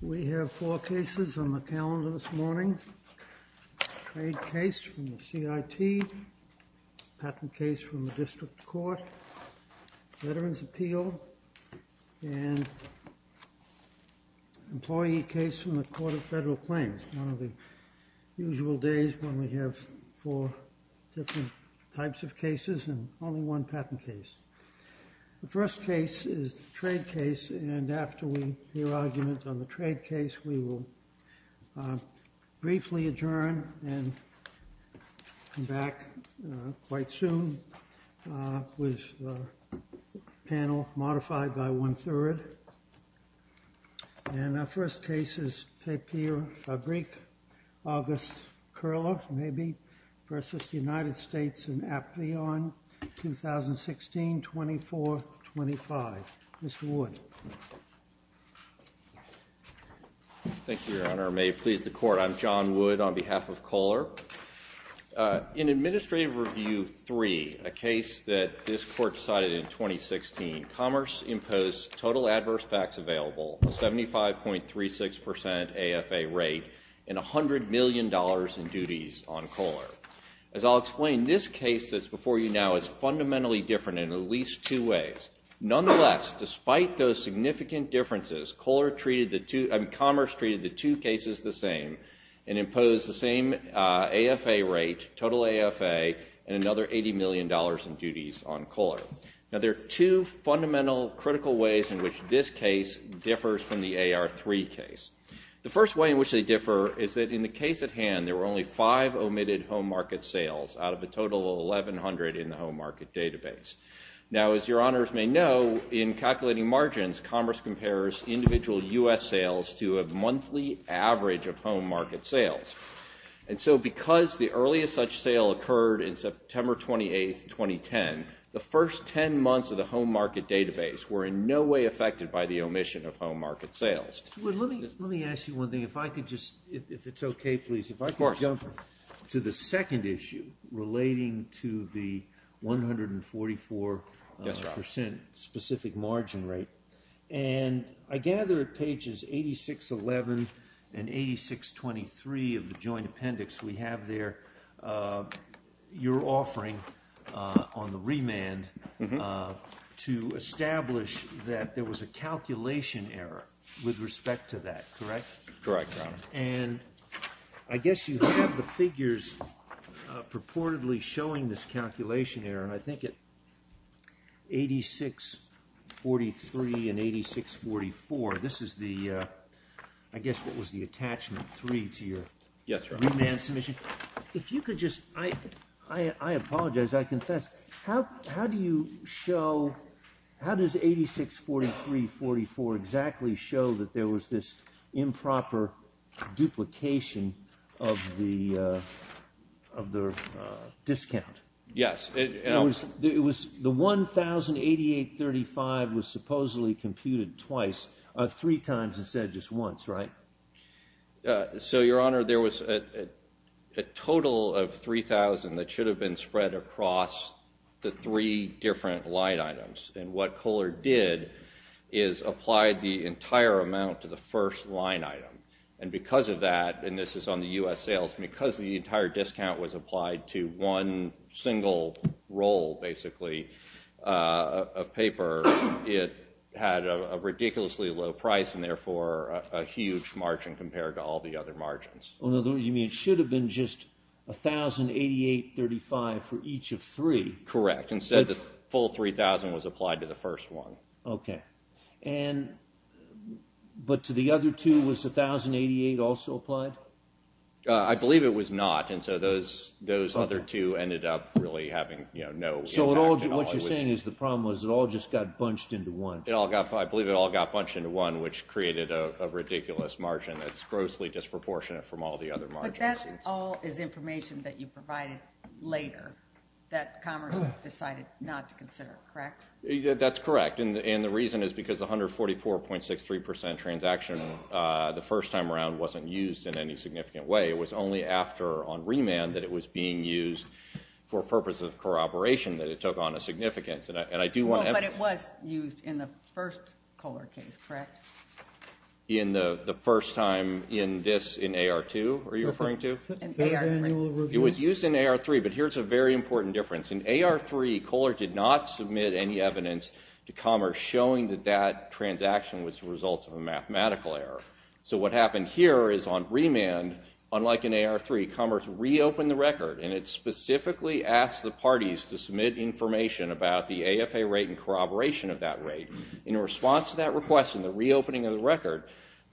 We have four cases on the calendar this morning. Trade case from the CIT. Patent case from the District Court. Veterans appeal. And employee case from the Court of Federal Claims. One of the usual days when we have four different types of cases and only one patent case. The first case is the trade case. And after we hear argument on the trade case, we will briefly adjourn and come back quite soon with the panel modified by one-third. And our first case is Papierfabrik August Koehler, maybe, v. United States in Aplion, 2016, 2425. Mr. Wood. Thank you, Your Honor. May it please the Court. I'm John Wood on behalf of Kohler. In Administrative Review 3, a case that this Court decided in 2016, Commerce imposed total adverse facts available, a 75.36% AFA rate, and $100 million in duties on Kohler. As I'll explain, this case that's before you now is fundamentally different in at least two ways. Nonetheless, despite those significant differences, Commerce treated the two cases the same and imposed the same AFA rate, total AFA, and another $80 million in duties on Kohler. Now, there are two fundamental, critical ways in which this case differs from the AR3 case. The first way in which they differ is that in the case at hand, there were only five omitted home market sales out of a total of 1,100 in the home market database. Now, as Your Honors may know, in calculating margins, Commerce compares individual U.S. sales to a monthly average of home market sales. And so because the earliest such sale occurred in September 28, 2010, the first 10 months of the home market database were in no way affected by the omission of home market sales. Let me ask you one thing. If I could just, if it's okay, please, if I could jump to the second issue relating to the 144% specific margin rate. And I gather at pages 8611 and 8623 of the joint appendix, we have there your offering on the remand to establish that there was a calculation error with respect to that, correct? And I guess you have the figures purportedly showing this calculation error, and I think at 8643 and 8644, this is the, I guess, what was the attachment 3 to your remand submission? If you could just, I apologize, I confess, how do you show, how does 8643-44 exactly show that there was this improper duplication of the discount? Yes. It was the 1,088.35 was supposedly computed twice, three times instead of just once, right? So, Your Honor, there was a total of 3,000 that should have been spread across the three different line items, and what Kohler did is applied the entire amount to the first line item. And because of that, and this is on the U.S. sales, because the entire discount was applied to one single roll, basically, of paper, it had a ridiculously low price and therefore a huge margin compared to all the other margins. You mean it should have been just 1,088.35 for each of three? Correct. Instead the full 3,000 was applied to the first one. Okay. And, but to the other two, was 1,088 also applied? I believe it was not, and so those other two ended up really having no impact at all. So what you're saying is the problem was it all just got bunched into one. I believe it all got bunched into one, which created a ridiculous margin that's grossly disproportionate from all the other margins. But that all is information that you provided later that Commerce decided not to consider, correct? That's correct, and the reason is because 144.63% transaction the first time around wasn't used in any significant way. It was only after, on remand, that it was being used for purposes of corroboration that it took on a significance, and I do want to emphasize. But it was used in the first Kohler case, correct? In the first time in this, in AR2, are you referring to? It was used in AR3, but here's a very important difference. In AR3, Kohler did not submit any evidence to Commerce showing that that transaction was the result of a mathematical error. So what happened here is on remand, unlike in AR3, Commerce reopened the record, and it specifically asked the parties to submit information about the AFA rate and corroboration of that rate. In response to that request and the reopening of the record,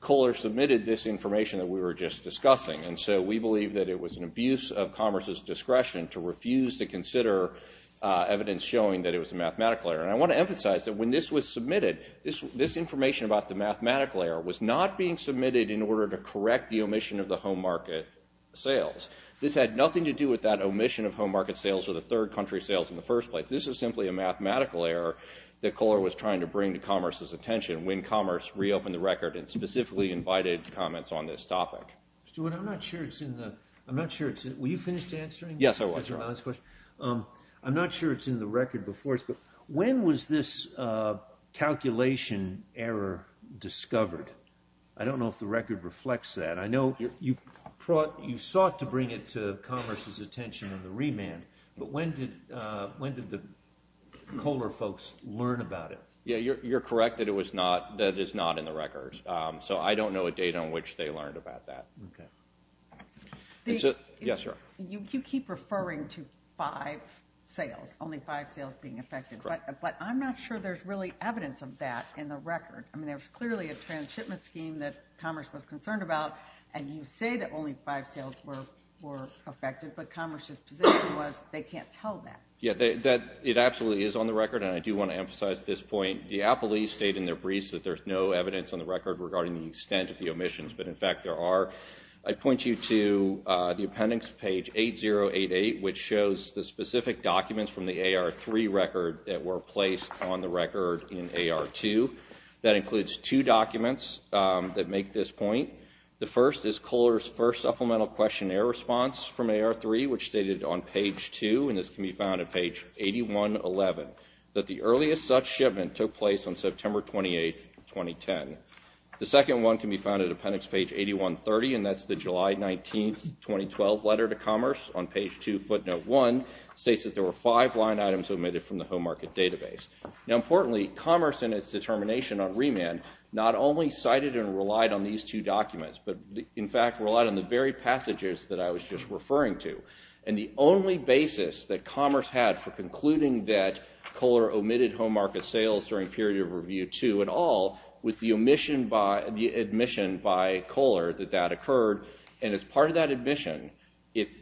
Kohler submitted this information that we were just discussing. And so we believe that it was an abuse of Commerce's discretion to refuse to consider evidence showing that it was a mathematical error. And I want to emphasize that when this was submitted, this information about the mathematical error was not being submitted in order to correct the omission of the home market sales. This had nothing to do with that omission of home market sales or the third country sales in the first place. This is simply a mathematical error that Kohler was trying to bring to Commerce's attention when Commerce reopened the record and specifically invited comments on this topic. Stuart, I'm not sure it's in the – I'm not sure it's in – were you finished answering? Yes, I was. I'm not sure it's in the record before us, but when was this calculation error discovered? I don't know if the record reflects that. I know you sought to bring it to Commerce's attention on the remand, but when did the Kohler folks learn about it? Yeah, you're correct that it was not – that it's not in the record. So I don't know a date on which they learned about that. Okay. Yes, sir. You keep referring to five sales, only five sales being affected. Correct. But I'm not sure there's really evidence of that in the record. I mean, there's clearly a transshipment scheme that Commerce was concerned about, and you say that only five sales were affected, but Commerce's position was they can't tell that. Yeah, it absolutely is on the record, and I do want to emphasize this point. The appellees state in their briefs that there's no evidence on the record regarding the extent of the omissions, but, in fact, there are. I'd point you to the appendix, page 8088, which shows the specific documents from the AR-3 record that were placed on the record in AR-2. That includes two documents that make this point. The first is Kohler's first supplemental questionnaire response from AR-3, which stated on page 2, and this can be found at page 8111, that the earliest such shipment took place on September 28, 2010. The second one can be found at appendix page 8130, and that's the July 19, 2012 letter to Commerce on page 2, footnote 1, states that there were five line items omitted from the home market database. Now, importantly, Commerce and its determination on remand not only cited and relied on these two documents, but, in fact, relied on the very passages that I was just referring to, and the only basis that Commerce had for concluding that Kohler omitted home market sales during period of review 2 at all was the admission by Kohler that that occurred, and as part of that admission,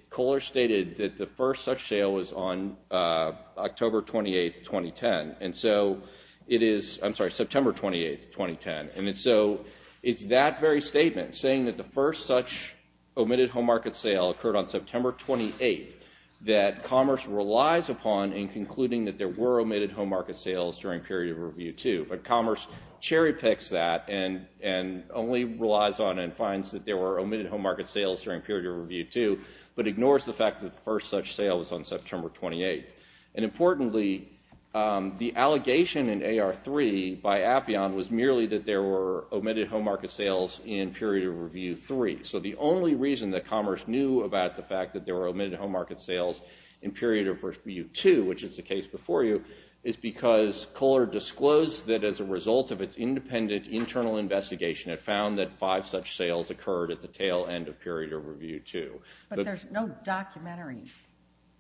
Kohler stated that the first such sale was on October 28, 2010, and so it is, I'm sorry, September 28, 2010, and so it's that very statement saying that the first such omitted home market sale occurred on September 28 that Commerce relies upon in concluding that there were omitted home market sales during period of review 2, but Commerce cherry picks that and only relies on and finds that there were omitted home market sales during period of review 2, but ignores the fact that the first such sale was on September 28, and, importantly, the allegation in AR3 by Avion was merely that there were omitted home market sales in period of review 3, so the only reason that Commerce knew about the fact that there were omitted home market sales in period of review 2, which is the case before you, is because Kohler disclosed that as a result of its independent internal investigation, it found that five such sales occurred at the tail end of period of review 2. But there's no documentary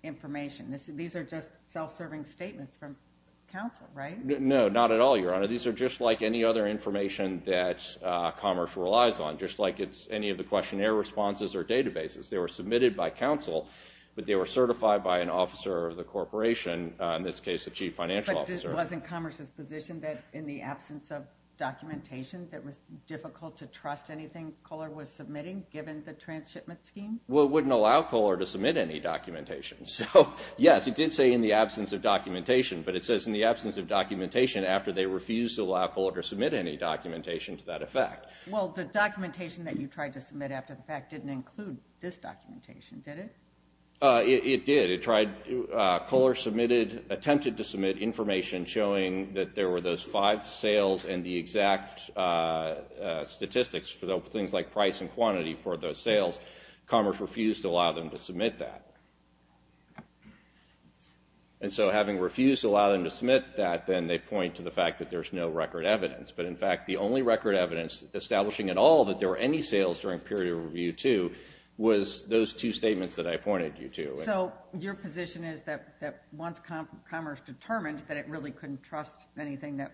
information. These are just self-serving statements from counsel, right? No, not at all, Your Honor. These are just like any other information that Commerce relies on, just like it's any of the questionnaire responses or databases. They were submitted by counsel, but they were certified by an officer of the corporation, in this case a chief financial officer. But wasn't Commerce's position that in the absence of documentation, that it was difficult to trust anything Kohler was submitting, given the transshipment scheme? Well, it wouldn't allow Kohler to submit any documentation. So, yes, it did say in the absence of documentation, but it says in the absence of documentation after they refused to allow Kohler to submit any documentation to that effect. Well, the documentation that you tried to submit after the fact didn't include this documentation, did it? It did. Kohler attempted to submit information showing that there were those five sales and the exact statistics for things like price and quantity for those sales. Commerce refused to allow them to submit that. And so having refused to allow them to submit that, then they point to the fact that there's no record evidence. But, in fact, the only record evidence establishing at all that there were any sales during period of review 2 was those two statements that I pointed you to. So your position is that once Commerce determined that it really couldn't trust anything that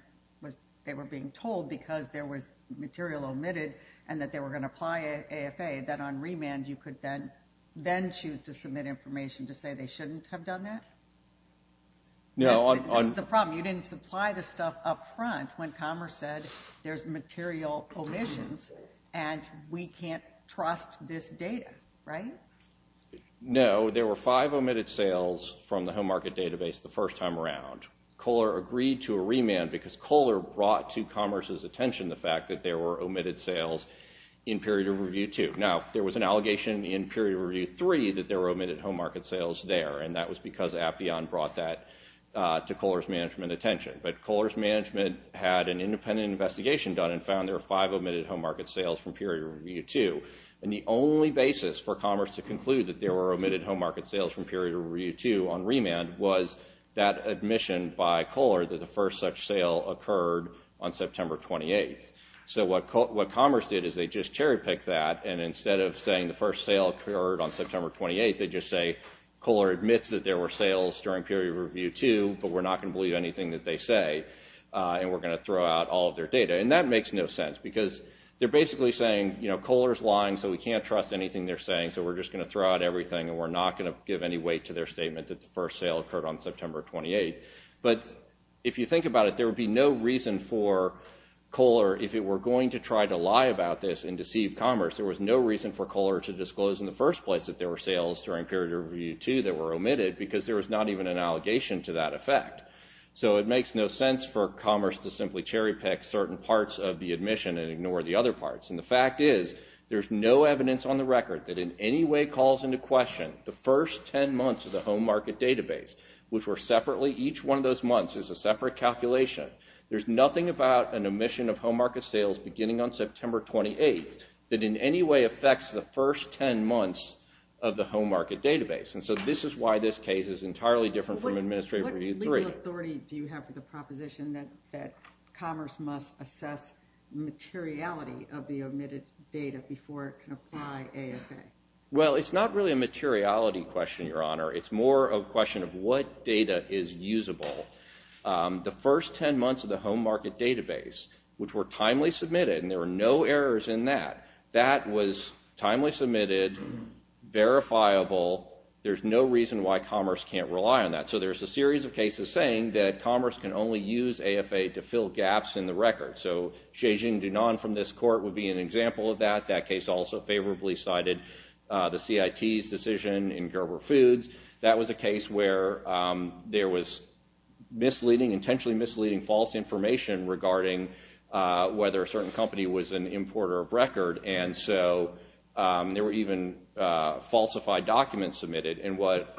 they were being told because there was material omitted and that they were going to apply AFA, that on remand you could then choose to submit information to say they shouldn't have done that? No. This is the problem. You didn't supply the stuff up front when Commerce said there's material omissions and we can't trust this data, right? No. There were five omitted sales from the home market database the first time around. Kohler agreed to a remand because Kohler brought to Commerce's attention the fact that there were omitted sales in period of review 2. Now, there was an allegation in period of review 3 that there were omitted home market sales there, and that was because Appian brought that to Kohler's management attention. But Kohler's management had an independent investigation done and found there were five omitted home market sales from period of review 2. And the only basis for Commerce to conclude that there were omitted home market sales from period of review 2 on remand was that admission by Kohler that the first such sale occurred on September 28th. So what Commerce did is they just cherry-picked that, and instead of saying the first sale occurred on September 28th, they just say Kohler admits that there were sales during period of review 2, but we're not going to believe anything that they say, and we're going to throw out all of their data. And that makes no sense because they're basically saying, you know, Kohler's lying, so we can't trust anything they're saying, so we're just going to throw out everything, and we're not going to give any weight to their statement that the first sale occurred on September 28th. But if you think about it, there would be no reason for Kohler, if it were going to try to lie about this and deceive Commerce, there was no reason for Kohler to disclose in the first place that there were sales during period of review 2 that were omitted because there was not even an allegation to that effect. So it makes no sense for Commerce to simply cherry-pick certain parts of the admission and ignore the other parts, and the fact is there's no evidence on the record that in any way calls into question the first 10 months of the home market database, which were separately, each one of those months is a separate calculation. There's nothing about an omission of home market sales beginning on September 28th that in any way affects the first 10 months of the home market database. And so this is why this case is entirely different from Administrative Review 3. What legal authority do you have for the proposition that Commerce must assess materiality of the omitted data before it can apply AFA? Well, it's not really a materiality question, Your Honor. It's more a question of what data is usable. The first 10 months of the home market database, which were timely submitted, and there were no errors in that, that was timely submitted, verifiable. There's no reason why Commerce can't rely on that. So there's a series of cases saying that Commerce can only use AFA to fill gaps in the record. So Zhejing Dunan from this court would be an example of that. That case also favorably cited the CIT's decision in Gerber Foods. That was a case where there was misleading, intentionally misleading false information regarding whether a certain company was an importer of record. And so there were even falsified documents submitted. And what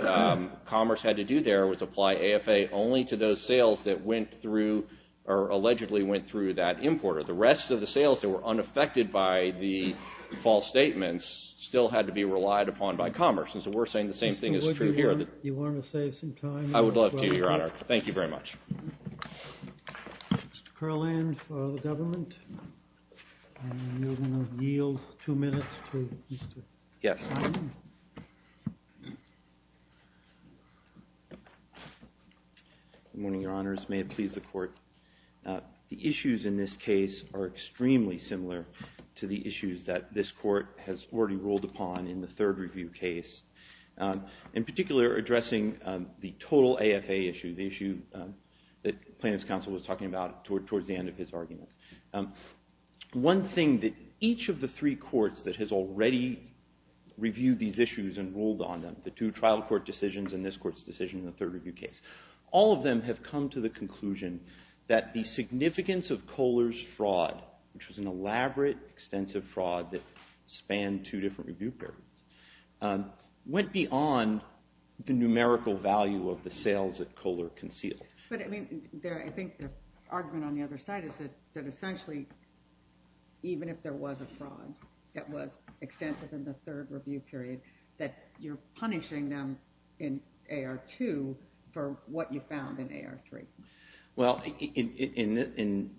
Commerce had to do there was apply AFA only to those sales that went through or allegedly went through that importer. The rest of the sales that were unaffected by the false statements still had to be relied upon by Commerce. And so we're saying the same thing is true here. You want to save some time? I would love to, Your Honor. Thank you very much. Mr. Kurland for the government. You will yield two minutes to Mr. Kurland. Yes. Good morning, Your Honors. May it please the Court. The issues in this case are extremely similar to the issues that this court has already ruled upon in the third review case, in particular addressing the total AFA issue, the issue that plaintiff's counsel was talking about towards the end of his argument. One thing that each of the three courts that has already reviewed these issues and ruled on them, the two trial court decisions and this court's decision in the third review case, all of them have come to the conclusion that the significance of Kohler's fraud, which was an elaborate, extensive fraud that spanned two different review periods, went beyond the numerical value of the sales that Kohler concealed. But, I mean, I think the argument on the other side is that essentially, even if there was a fraud that was extensive in the third review period, that you're punishing them in AR2 for what you found in AR3. Well,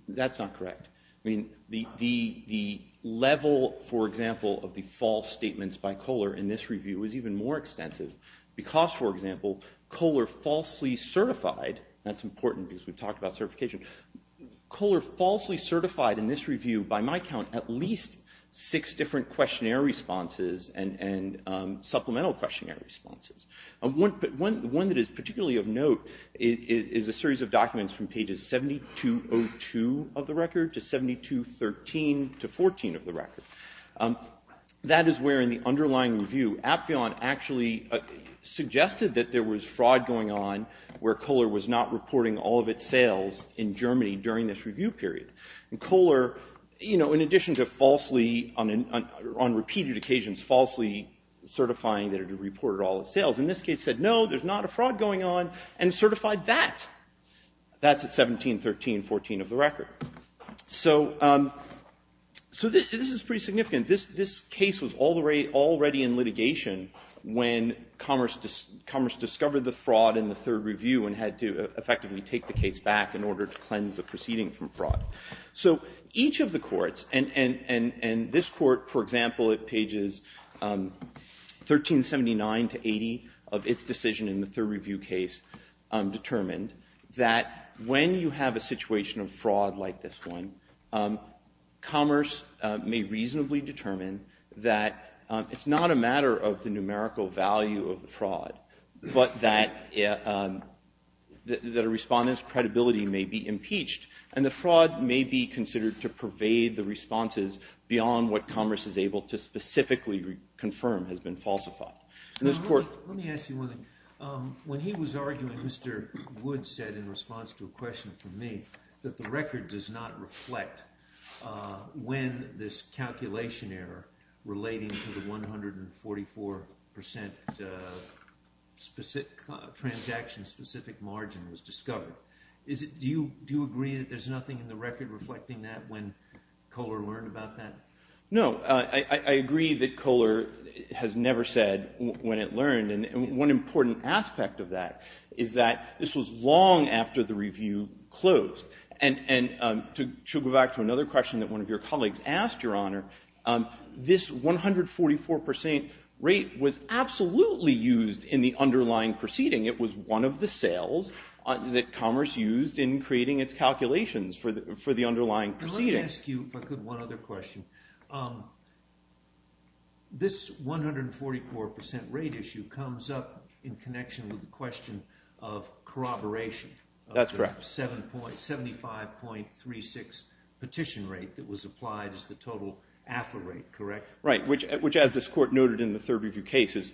that's not correct. I mean, the level, for example, of the false statements by Kohler in this review was even more extensive because, for example, Kohler falsely certified, that's important because we've talked about certification, Kohler falsely certified in this review, by my count, at least six different questionnaire responses and supplemental questionnaire responses. One that is particularly of note is a series of documents from pages 7202 of the record to 7213 to 7214 of the record. That is where, in the underlying review, Apfion actually suggested that there was fraud going on where Kohler was not reporting all of its sales in Germany during this review period. And Kohler, you know, in addition to falsely, on repeated occasions, falsely certifying that it had reported all its sales, in this case said, no, there's not a fraud going on, and certified that. That's at 1713.14 of the record. So this is pretty significant. This case was already in litigation when Commerce discovered the fraud in the third review and had to effectively take the case back in order to cleanse the proceeding from fraud. So each of the courts, and this court, for example, at pages 1379 to 80 of its decision in the third review case, determined that when you have a situation of fraud like this one, Commerce may reasonably determine that it's not a matter of the numerical value of the fraud, but that a respondent's credibility may be impeached. And the fraud may be considered to pervade the responses beyond what Commerce is able to specifically confirm has been falsified. Now, let me ask you one thing. When he was arguing, Mr. Wood said in response to a question from me that the record does not reflect when this calculation error relating to the 144% transaction-specific margin was discovered. Do you agree that there's nothing in the record reflecting that when Kohler learned about that? No. I agree that Kohler has never said when it learned. And one important aspect of that is that this was long after the review closed. And to go back to another question that one of your colleagues asked, Your Honor, this 144% rate was absolutely used in the underlying proceeding. It was one of the sales that Commerce used in creating its calculations for the underlying proceeding. Let me ask you, if I could, one other question. This 144% rate issue comes up in connection with the question of corroboration. That's correct. The 75.36 petition rate that was applied as the total AFA rate, correct? Right, which, as this Court noted in the third review case, is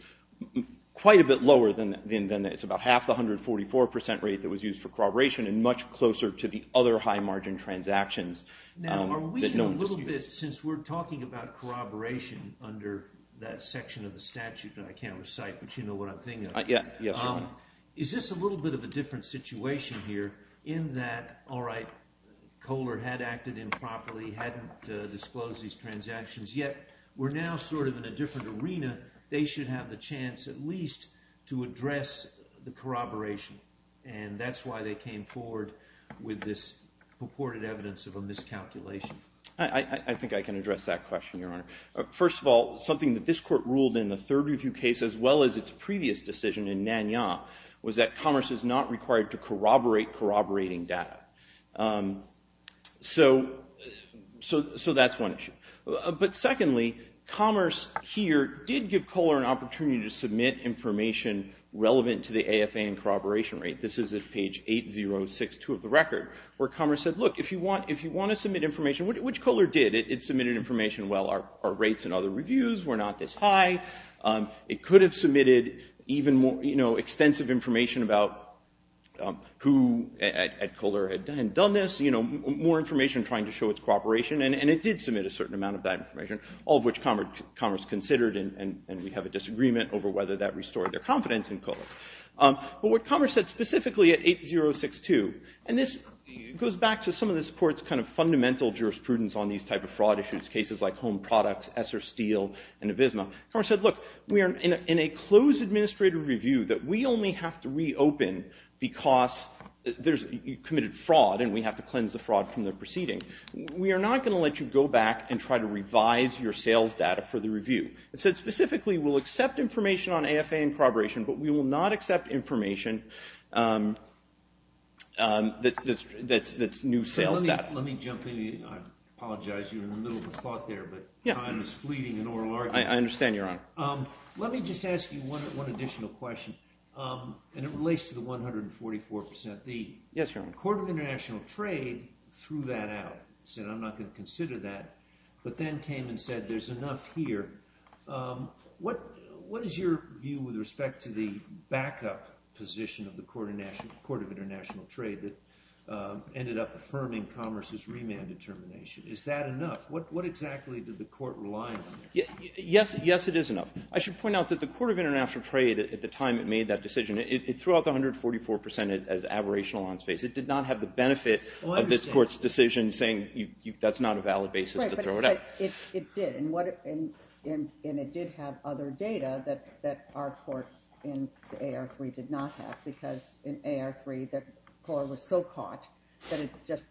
quite a bit lower than that. It's about half the 144% rate that was used for corroboration and much closer to the other high-margin transactions. Now, are we in a little bit, since we're talking about corroboration under that section of the statute, and I can't recite, but you know what I'm thinking of. Yes, Your Honor. Is this a little bit of a different situation here in that, all right, Kohler had acted improperly, they hadn't disclosed these transactions yet. We're now sort of in a different arena. They should have the chance at least to address the corroboration, and that's why they came forward with this purported evidence of a miscalculation. I think I can address that question, Your Honor. First of all, something that this Court ruled in the third review case, as well as its previous decision in Nanyang, was that Commerce is not required to corroborate corroborating data. So that's one issue. But secondly, Commerce here did give Kohler an opportunity to submit information relevant to the AFA and corroboration rate. This is at page 8062 of the record, where Commerce said, look, if you want to submit information, which Kohler did? It submitted information, well, our rates in other reviews were not this high. It could have submitted even more extensive information about who at Kohler had done this, more information trying to show its cooperation, and it did submit a certain amount of that information, all of which Commerce considered, and we have a disagreement over whether that restored their confidence in Kohler. But what Commerce said specifically at 8062, and this goes back to some of this Court's kind of fundamental jurisprudence on these type of fraud issues, cases like Home Products, Esser Steel, and Avisma, Commerce said, look, we are in a closed administrative review that we only have to reopen because you committed fraud and we have to cleanse the fraud from the proceeding. We are not going to let you go back and try to revise your sales data for the review. It said specifically we'll accept information on AFA and corroboration, I apologize, you're in the middle of a thought there, but time is fleeting in oral argument. I understand, Your Honor. Let me just ask you one additional question, and it relates to the 144%. The Court of International Trade threw that out, said I'm not going to consider that, but then came and said there's enough here. What is your view with respect to the backup position of the Court of International Trade that ended up affirming Commerce's remand determination? Is that enough? What exactly did the Court rely on? Yes, it is enough. I should point out that the Court of International Trade at the time it made that decision, it threw out the 144% as aberrational on space. It did not have the benefit of this Court's decision saying that's not a valid basis to throw it out. Right, but it did, and it did have other data that our court in AR3 did not have because in AR3 the court was so caught that it just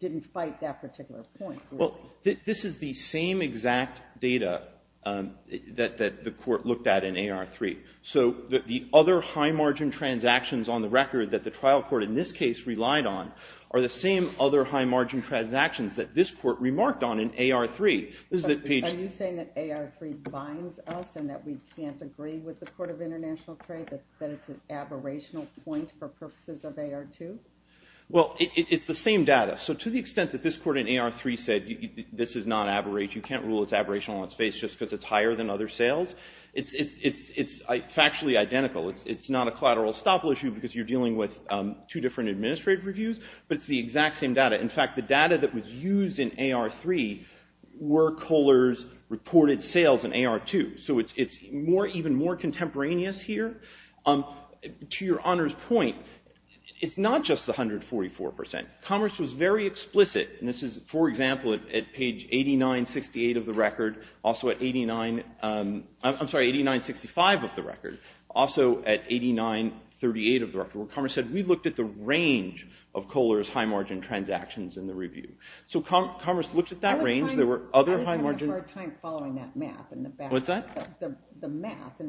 didn't fight that particular point. Well, this is the same exact data that the court looked at in AR3. So the other high-margin transactions on the record that the trial court in this case relied on are the same other high-margin transactions that this court remarked on in AR3. Are you saying that AR3 binds us and that we can't agree with the Court of International Trade, that it's an aberrational point for purposes of AR2? Well, it's the same data. So to the extent that this court in AR3 said this is not aberrate, you can't rule it's aberrational on space just because it's higher than other sales, it's factually identical. It's not a collateral estoppel issue because you're dealing with two different administrative reviews, but it's the exact same data. In fact, the data that was used in AR3 were Kohler's reported sales in AR2. So it's even more contemporaneous here. To your Honor's point, it's not just the 144%. Commerce was very explicit, and this is, for example, at page 8968 of the record, also at 8965 of the record, also at 8938 of the record, where Commerce said we looked at the range of Kohler's high-margin transactions in the review. So Commerce looked at that range. I just have a hard time following that math and the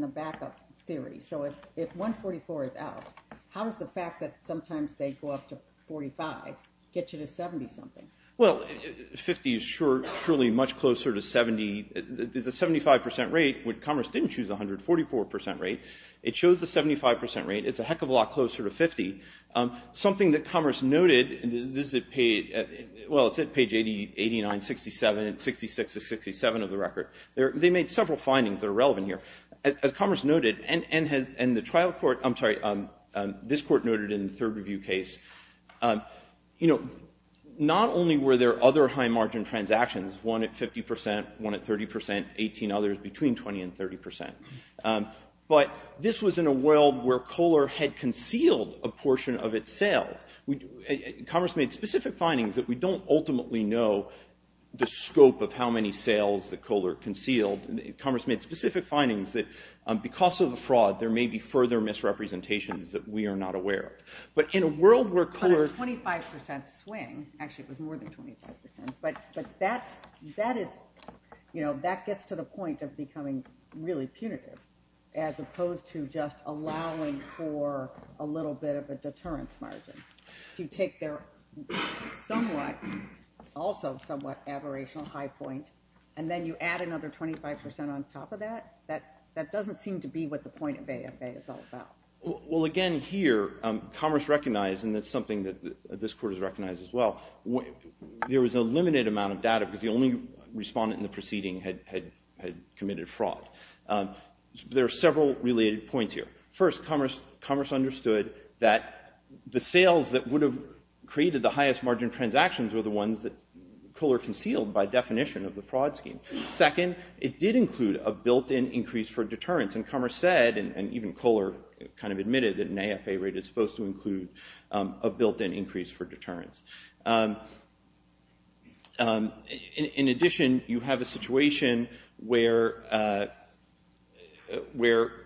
backup theory. So if 144 is out, how does the fact that sometimes they go up to 45 get you to 70-something? Well, 50 is surely much closer to 70. The 75% rate, Commerce didn't choose the 144% rate. It chose the 75% rate. It's a heck of a lot closer to 50. Something that Commerce noted, and this is at page, well, it's at page 8967, at 66 of 67 of the record. They made several findings that are relevant here. As Commerce noted, and the trial court, I'm sorry, this court noted in the third review case, you know, not only were there other high-margin transactions, one at 50%, one at 30%, 18 others between 20 and 30%, but this was in a world where Kohler had concealed a portion of its sales. Commerce made specific findings that we don't ultimately know the scope of how many sales that Kohler concealed. Commerce made specific findings that because of the fraud, there may be further misrepresentations that we are not aware of. But in a world where Kohler- On a 25% swing, actually it was more than 25%, but that is, you know, that gets to the point of becoming really punitive as opposed to just allowing for a little bit of a deterrence margin. If you take their somewhat, also somewhat aberrational high point, and then you add another 25% on top of that, that doesn't seem to be what the point of AFA is all about. Well, again, here Commerce recognized, and that's something that this court has recognized as well, there was a limited amount of data because the only respondent in the proceeding had committed fraud. There are several related points here. First, Commerce understood that the sales that would have created the highest margin transactions were the ones that Kohler concealed by definition of the fraud scheme. Second, it did include a built-in increase for deterrence, and Commerce said, and even Kohler kind of admitted, that an AFA rate is supposed to include a built-in increase for deterrence. In addition, you have a situation where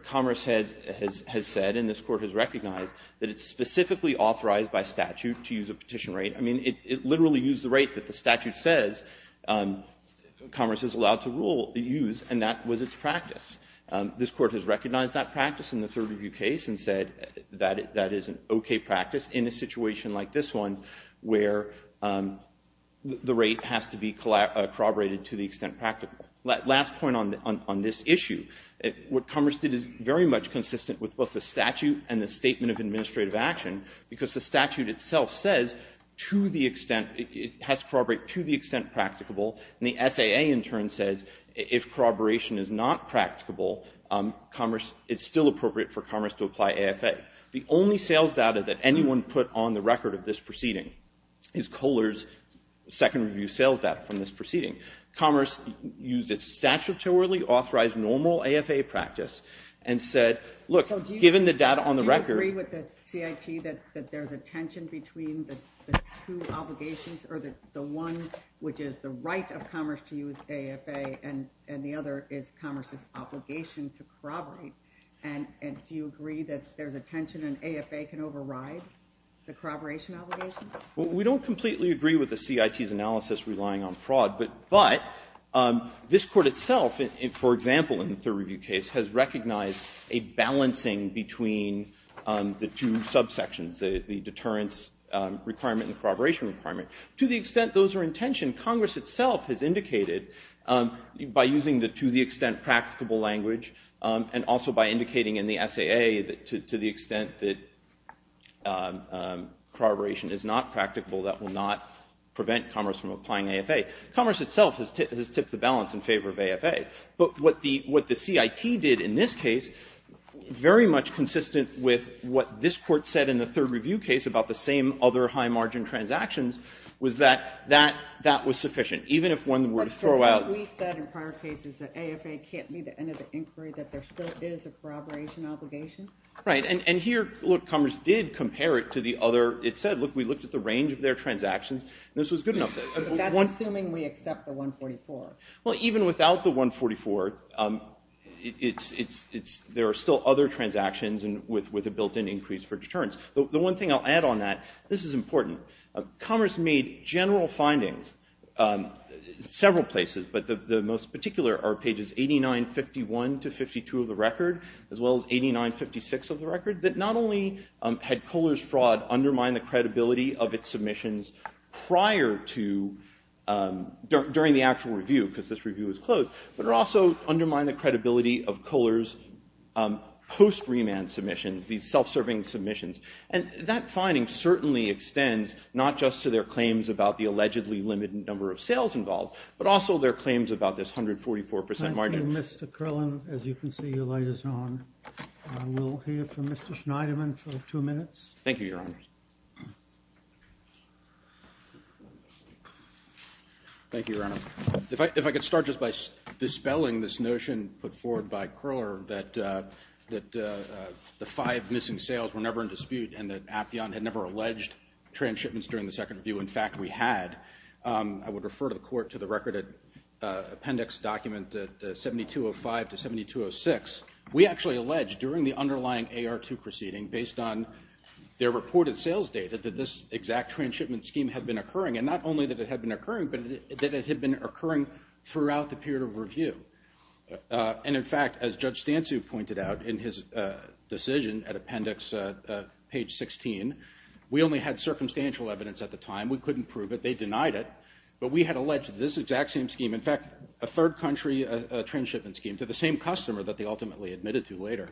Commerce has said, and this Court has recognized, that it's specifically authorized by statute to use a petition rate. I mean, it literally used the rate that the statute says Commerce is allowed to use, and that was its practice. This Court has recognized that practice in the third review case and said that is an okay practice in a situation like this one where the rate has to be corroborated to the extent practical. Last point on this issue. What Commerce did is very much consistent with both the statute and the statement of administrative action because the statute itself says to the extent, it has to corroborate to the extent practicable, and the SAA in turn says if corroboration is not practicable, Commerce, it's still appropriate for Commerce to apply AFA. The only sales data that anyone put on the record of this proceeding is Kohler's second review sales data from this proceeding. Commerce used its statutorily authorized normal AFA practice and said, look, given the data on the record. Do you agree with the CIT that there's a tension between the two obligations or the one which is the right of Commerce to use AFA and the other is Commerce's obligation to corroborate? And do you agree that there's a tension and AFA can override the corroboration obligation? We don't completely agree with the CIT's analysis relying on fraud, but this Court itself, for example, in the third review case, has recognized a balancing between the two subsections, the deterrence requirement and corroboration requirement. To the extent those are in tension, Congress itself has indicated by using the to the extent practicable language and also by indicating in the SAA to the extent that corroboration is not practicable, that will not prevent Commerce from applying AFA. Commerce itself has tipped the balance in favor of AFA. But what the CIT did in this case, very much consistent with what this Court said in the third review case about the same other high margin transactions, was that that was sufficient, even if one were to throw out. What we said in prior cases that AFA can't meet the end of the inquiry, that there still is a corroboration obligation. Right. And here, look, Commerce did compare it to the other. It said, look, we looked at the range of their transactions, and this was good enough. That's assuming we accept the 144. Well, even without the 144, there are still other transactions with a built-in increase for deterrence. The one thing I'll add on that, this is important. Commerce made general findings several places, but the most particular are pages 8951 to 52 of the record, as well as 8956 of the record, that not only had Kohler's fraud undermined the credibility of its submissions prior to, during the actual review, because this review was closed, but it also undermined the credibility of Kohler's post-remand submissions, these self-serving submissions. And that finding certainly extends not just to their claims about the 144% margin. Thank you, Mr. Krillin. As you can see, your light is on. We'll hear from Mr. Schneiderman for two minutes. Thank you, Your Honor. Thank you, Your Honor. If I could start just by dispelling this notion put forward by Krohler that the five missing sales were never in dispute and that Appian had never alleged transshipments during the second review. In fact, we had. I would refer to the court to the record appendix document 7205 to 7206. We actually alleged during the underlying AR2 proceeding, based on their reported sales data, that this exact transshipment scheme had been occurring, and not only that it had been occurring, but that it had been occurring throughout the period of review. And, in fact, as Judge Stansu pointed out in his decision at appendix page 16, we only had circumstantial evidence at the time. We couldn't prove it. They denied it. But we had alleged this exact same scheme. In fact, a third country transshipment scheme to the same customer that they ultimately admitted to later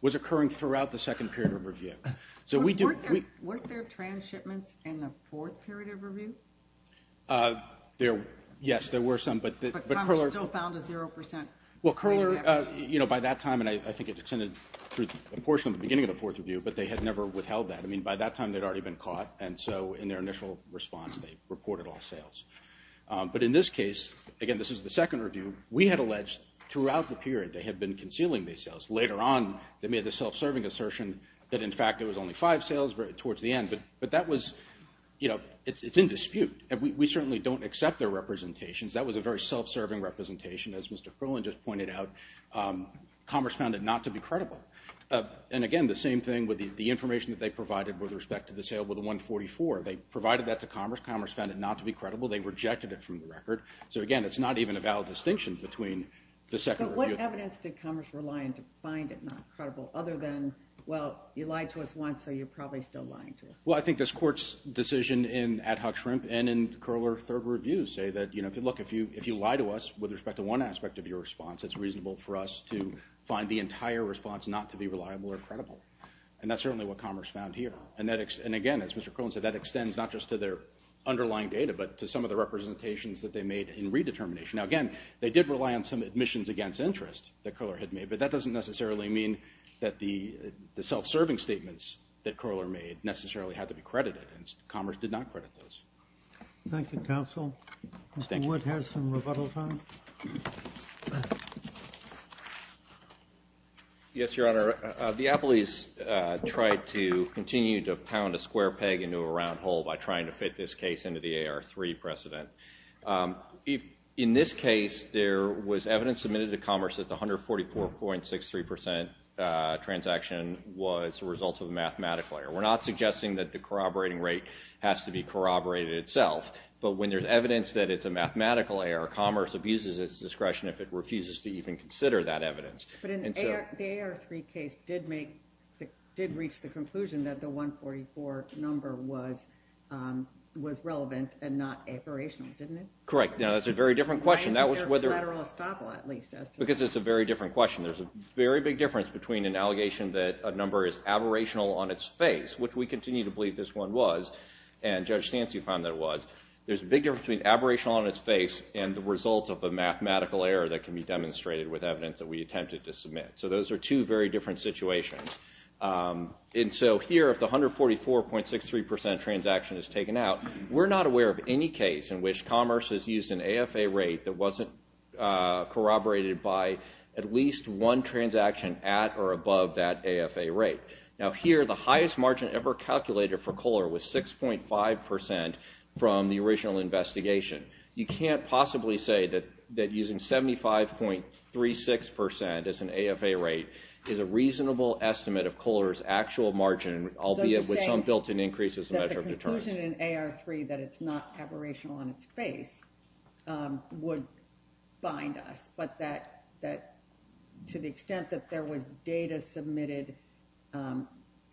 was occurring throughout the second period of review. Weren't there transshipments in the fourth period of review? Yes, there were some. But Congress still found a zero percent. Well, Krohler, you know, by that time, and I think it extended through a portion of the beginning of the fourth review, but they had never withheld that. I mean, by that time they'd already been caught, and so in their initial response they reported all sales. But in this case, again, this is the second review, we had alleged throughout the period they had been concealing these sales. Later on they made the self-serving assertion that, in fact, there was only five sales towards the end. But that was, you know, it's in dispute. We certainly don't accept their representations. That was a very self-serving representation. As Mr. Krohler just pointed out, Congress found it not to be credible. And, again, the same thing with the information that they provided with respect to the sale with the 144. They provided that to Congress. Congress found it not to be credible. They rejected it from the record. So, again, it's not even a valid distinction between the second review. But what evidence did Congress rely on to find it not credible other than, well, you lied to us once, so you're probably still lying to us? Well, I think this Court's decision in ad hoc shrimp and in Krohler's third review say that, you know, look, if you lie to us with respect to one aspect of your response, it's reasonable for us to find the entire response not to be reliable or credible. And that's certainly what Congress found here. And, again, as Mr. Krohler said, that extends not just to their underlying data but to some of the representations that they made in redetermination. Now, again, they did rely on some admissions against interest that Krohler had made, but that doesn't necessarily mean that the self-serving statements that Krohler made necessarily had to be credited, and Congress did not credit those. Thank you, counsel. Mr. Wood has some rebuttal time. Yes, Your Honor. The Appleys tried to continue to pound a square peg into a round hole by trying to fit this case into the AR3 precedent. In this case, there was evidence submitted to Commerce that the 144.63% transaction was the result of a mathematical error. We're not suggesting that the corroborating rate has to be corroborated itself, but when there's evidence that it's a mathematical error, Commerce abuses its discretion if it refuses to even consider that evidence. But the AR3 case did reach the conclusion that the 144 number was relevant and not aberrational, didn't it? Correct. Now, that's a very different question. Why isn't there a collateral estoppel, at least, as to that? Because it's a very different question. There's a very big difference between an allegation that a number is aberrational on its face, which we continue to believe this one was, and Judge Stancy found that it was. There's a big difference between aberration on its face and the result of a mathematical error that can be demonstrated with evidence that we attempted to submit. So those are two very different situations. And so here, if the 144.63% transaction is taken out, we're not aware of any case in which Commerce has used an AFA rate that wasn't corroborated by at least one transaction at or above that AFA rate. Now, here, the highest margin ever calculated for Kohler was 6.5% from the original investigation. You can't possibly say that using 75.36% as an AFA rate is a reasonable estimate of Kohler's actual margin, albeit with some built-in increase as a measure of deterrence. So you're saying that the conclusion in AR3 that it's not aberrational on its face would bind us, but that to the extent that there was data submitted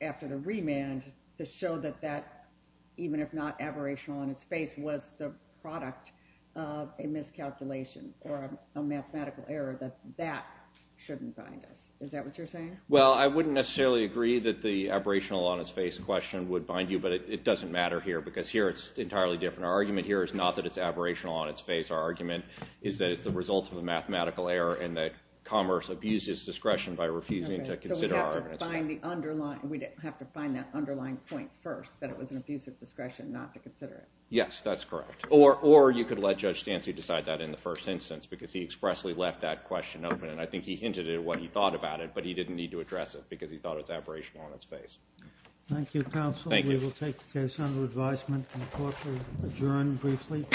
after the remand to show that that, even if not aberrational on its face, was the product of a miscalculation or a mathematical error, that that shouldn't bind us. Is that what you're saying? Well, I wouldn't necessarily agree that the aberrational on its face question would bind you, but it doesn't matter here because here it's entirely different. Our argument here is not that it's aberrational on its face. Our argument is that it's the result of a mathematical error and that Commerce abused his discretion by refusing to consider our evidence. So we'd have to find that underlying point first, that it was an abuse of discretion not to consider it. Yes, that's correct. Or you could let Judge Stancy decide that in the first instance because he expressly left that question open, and I think he hinted at what he thought about it, but he didn't need to address it because he thought it was aberrational on its face. Thank you, counsel. Thank you. We will take the case under advisement, and the court will adjourn briefly. Thank you. Thank you.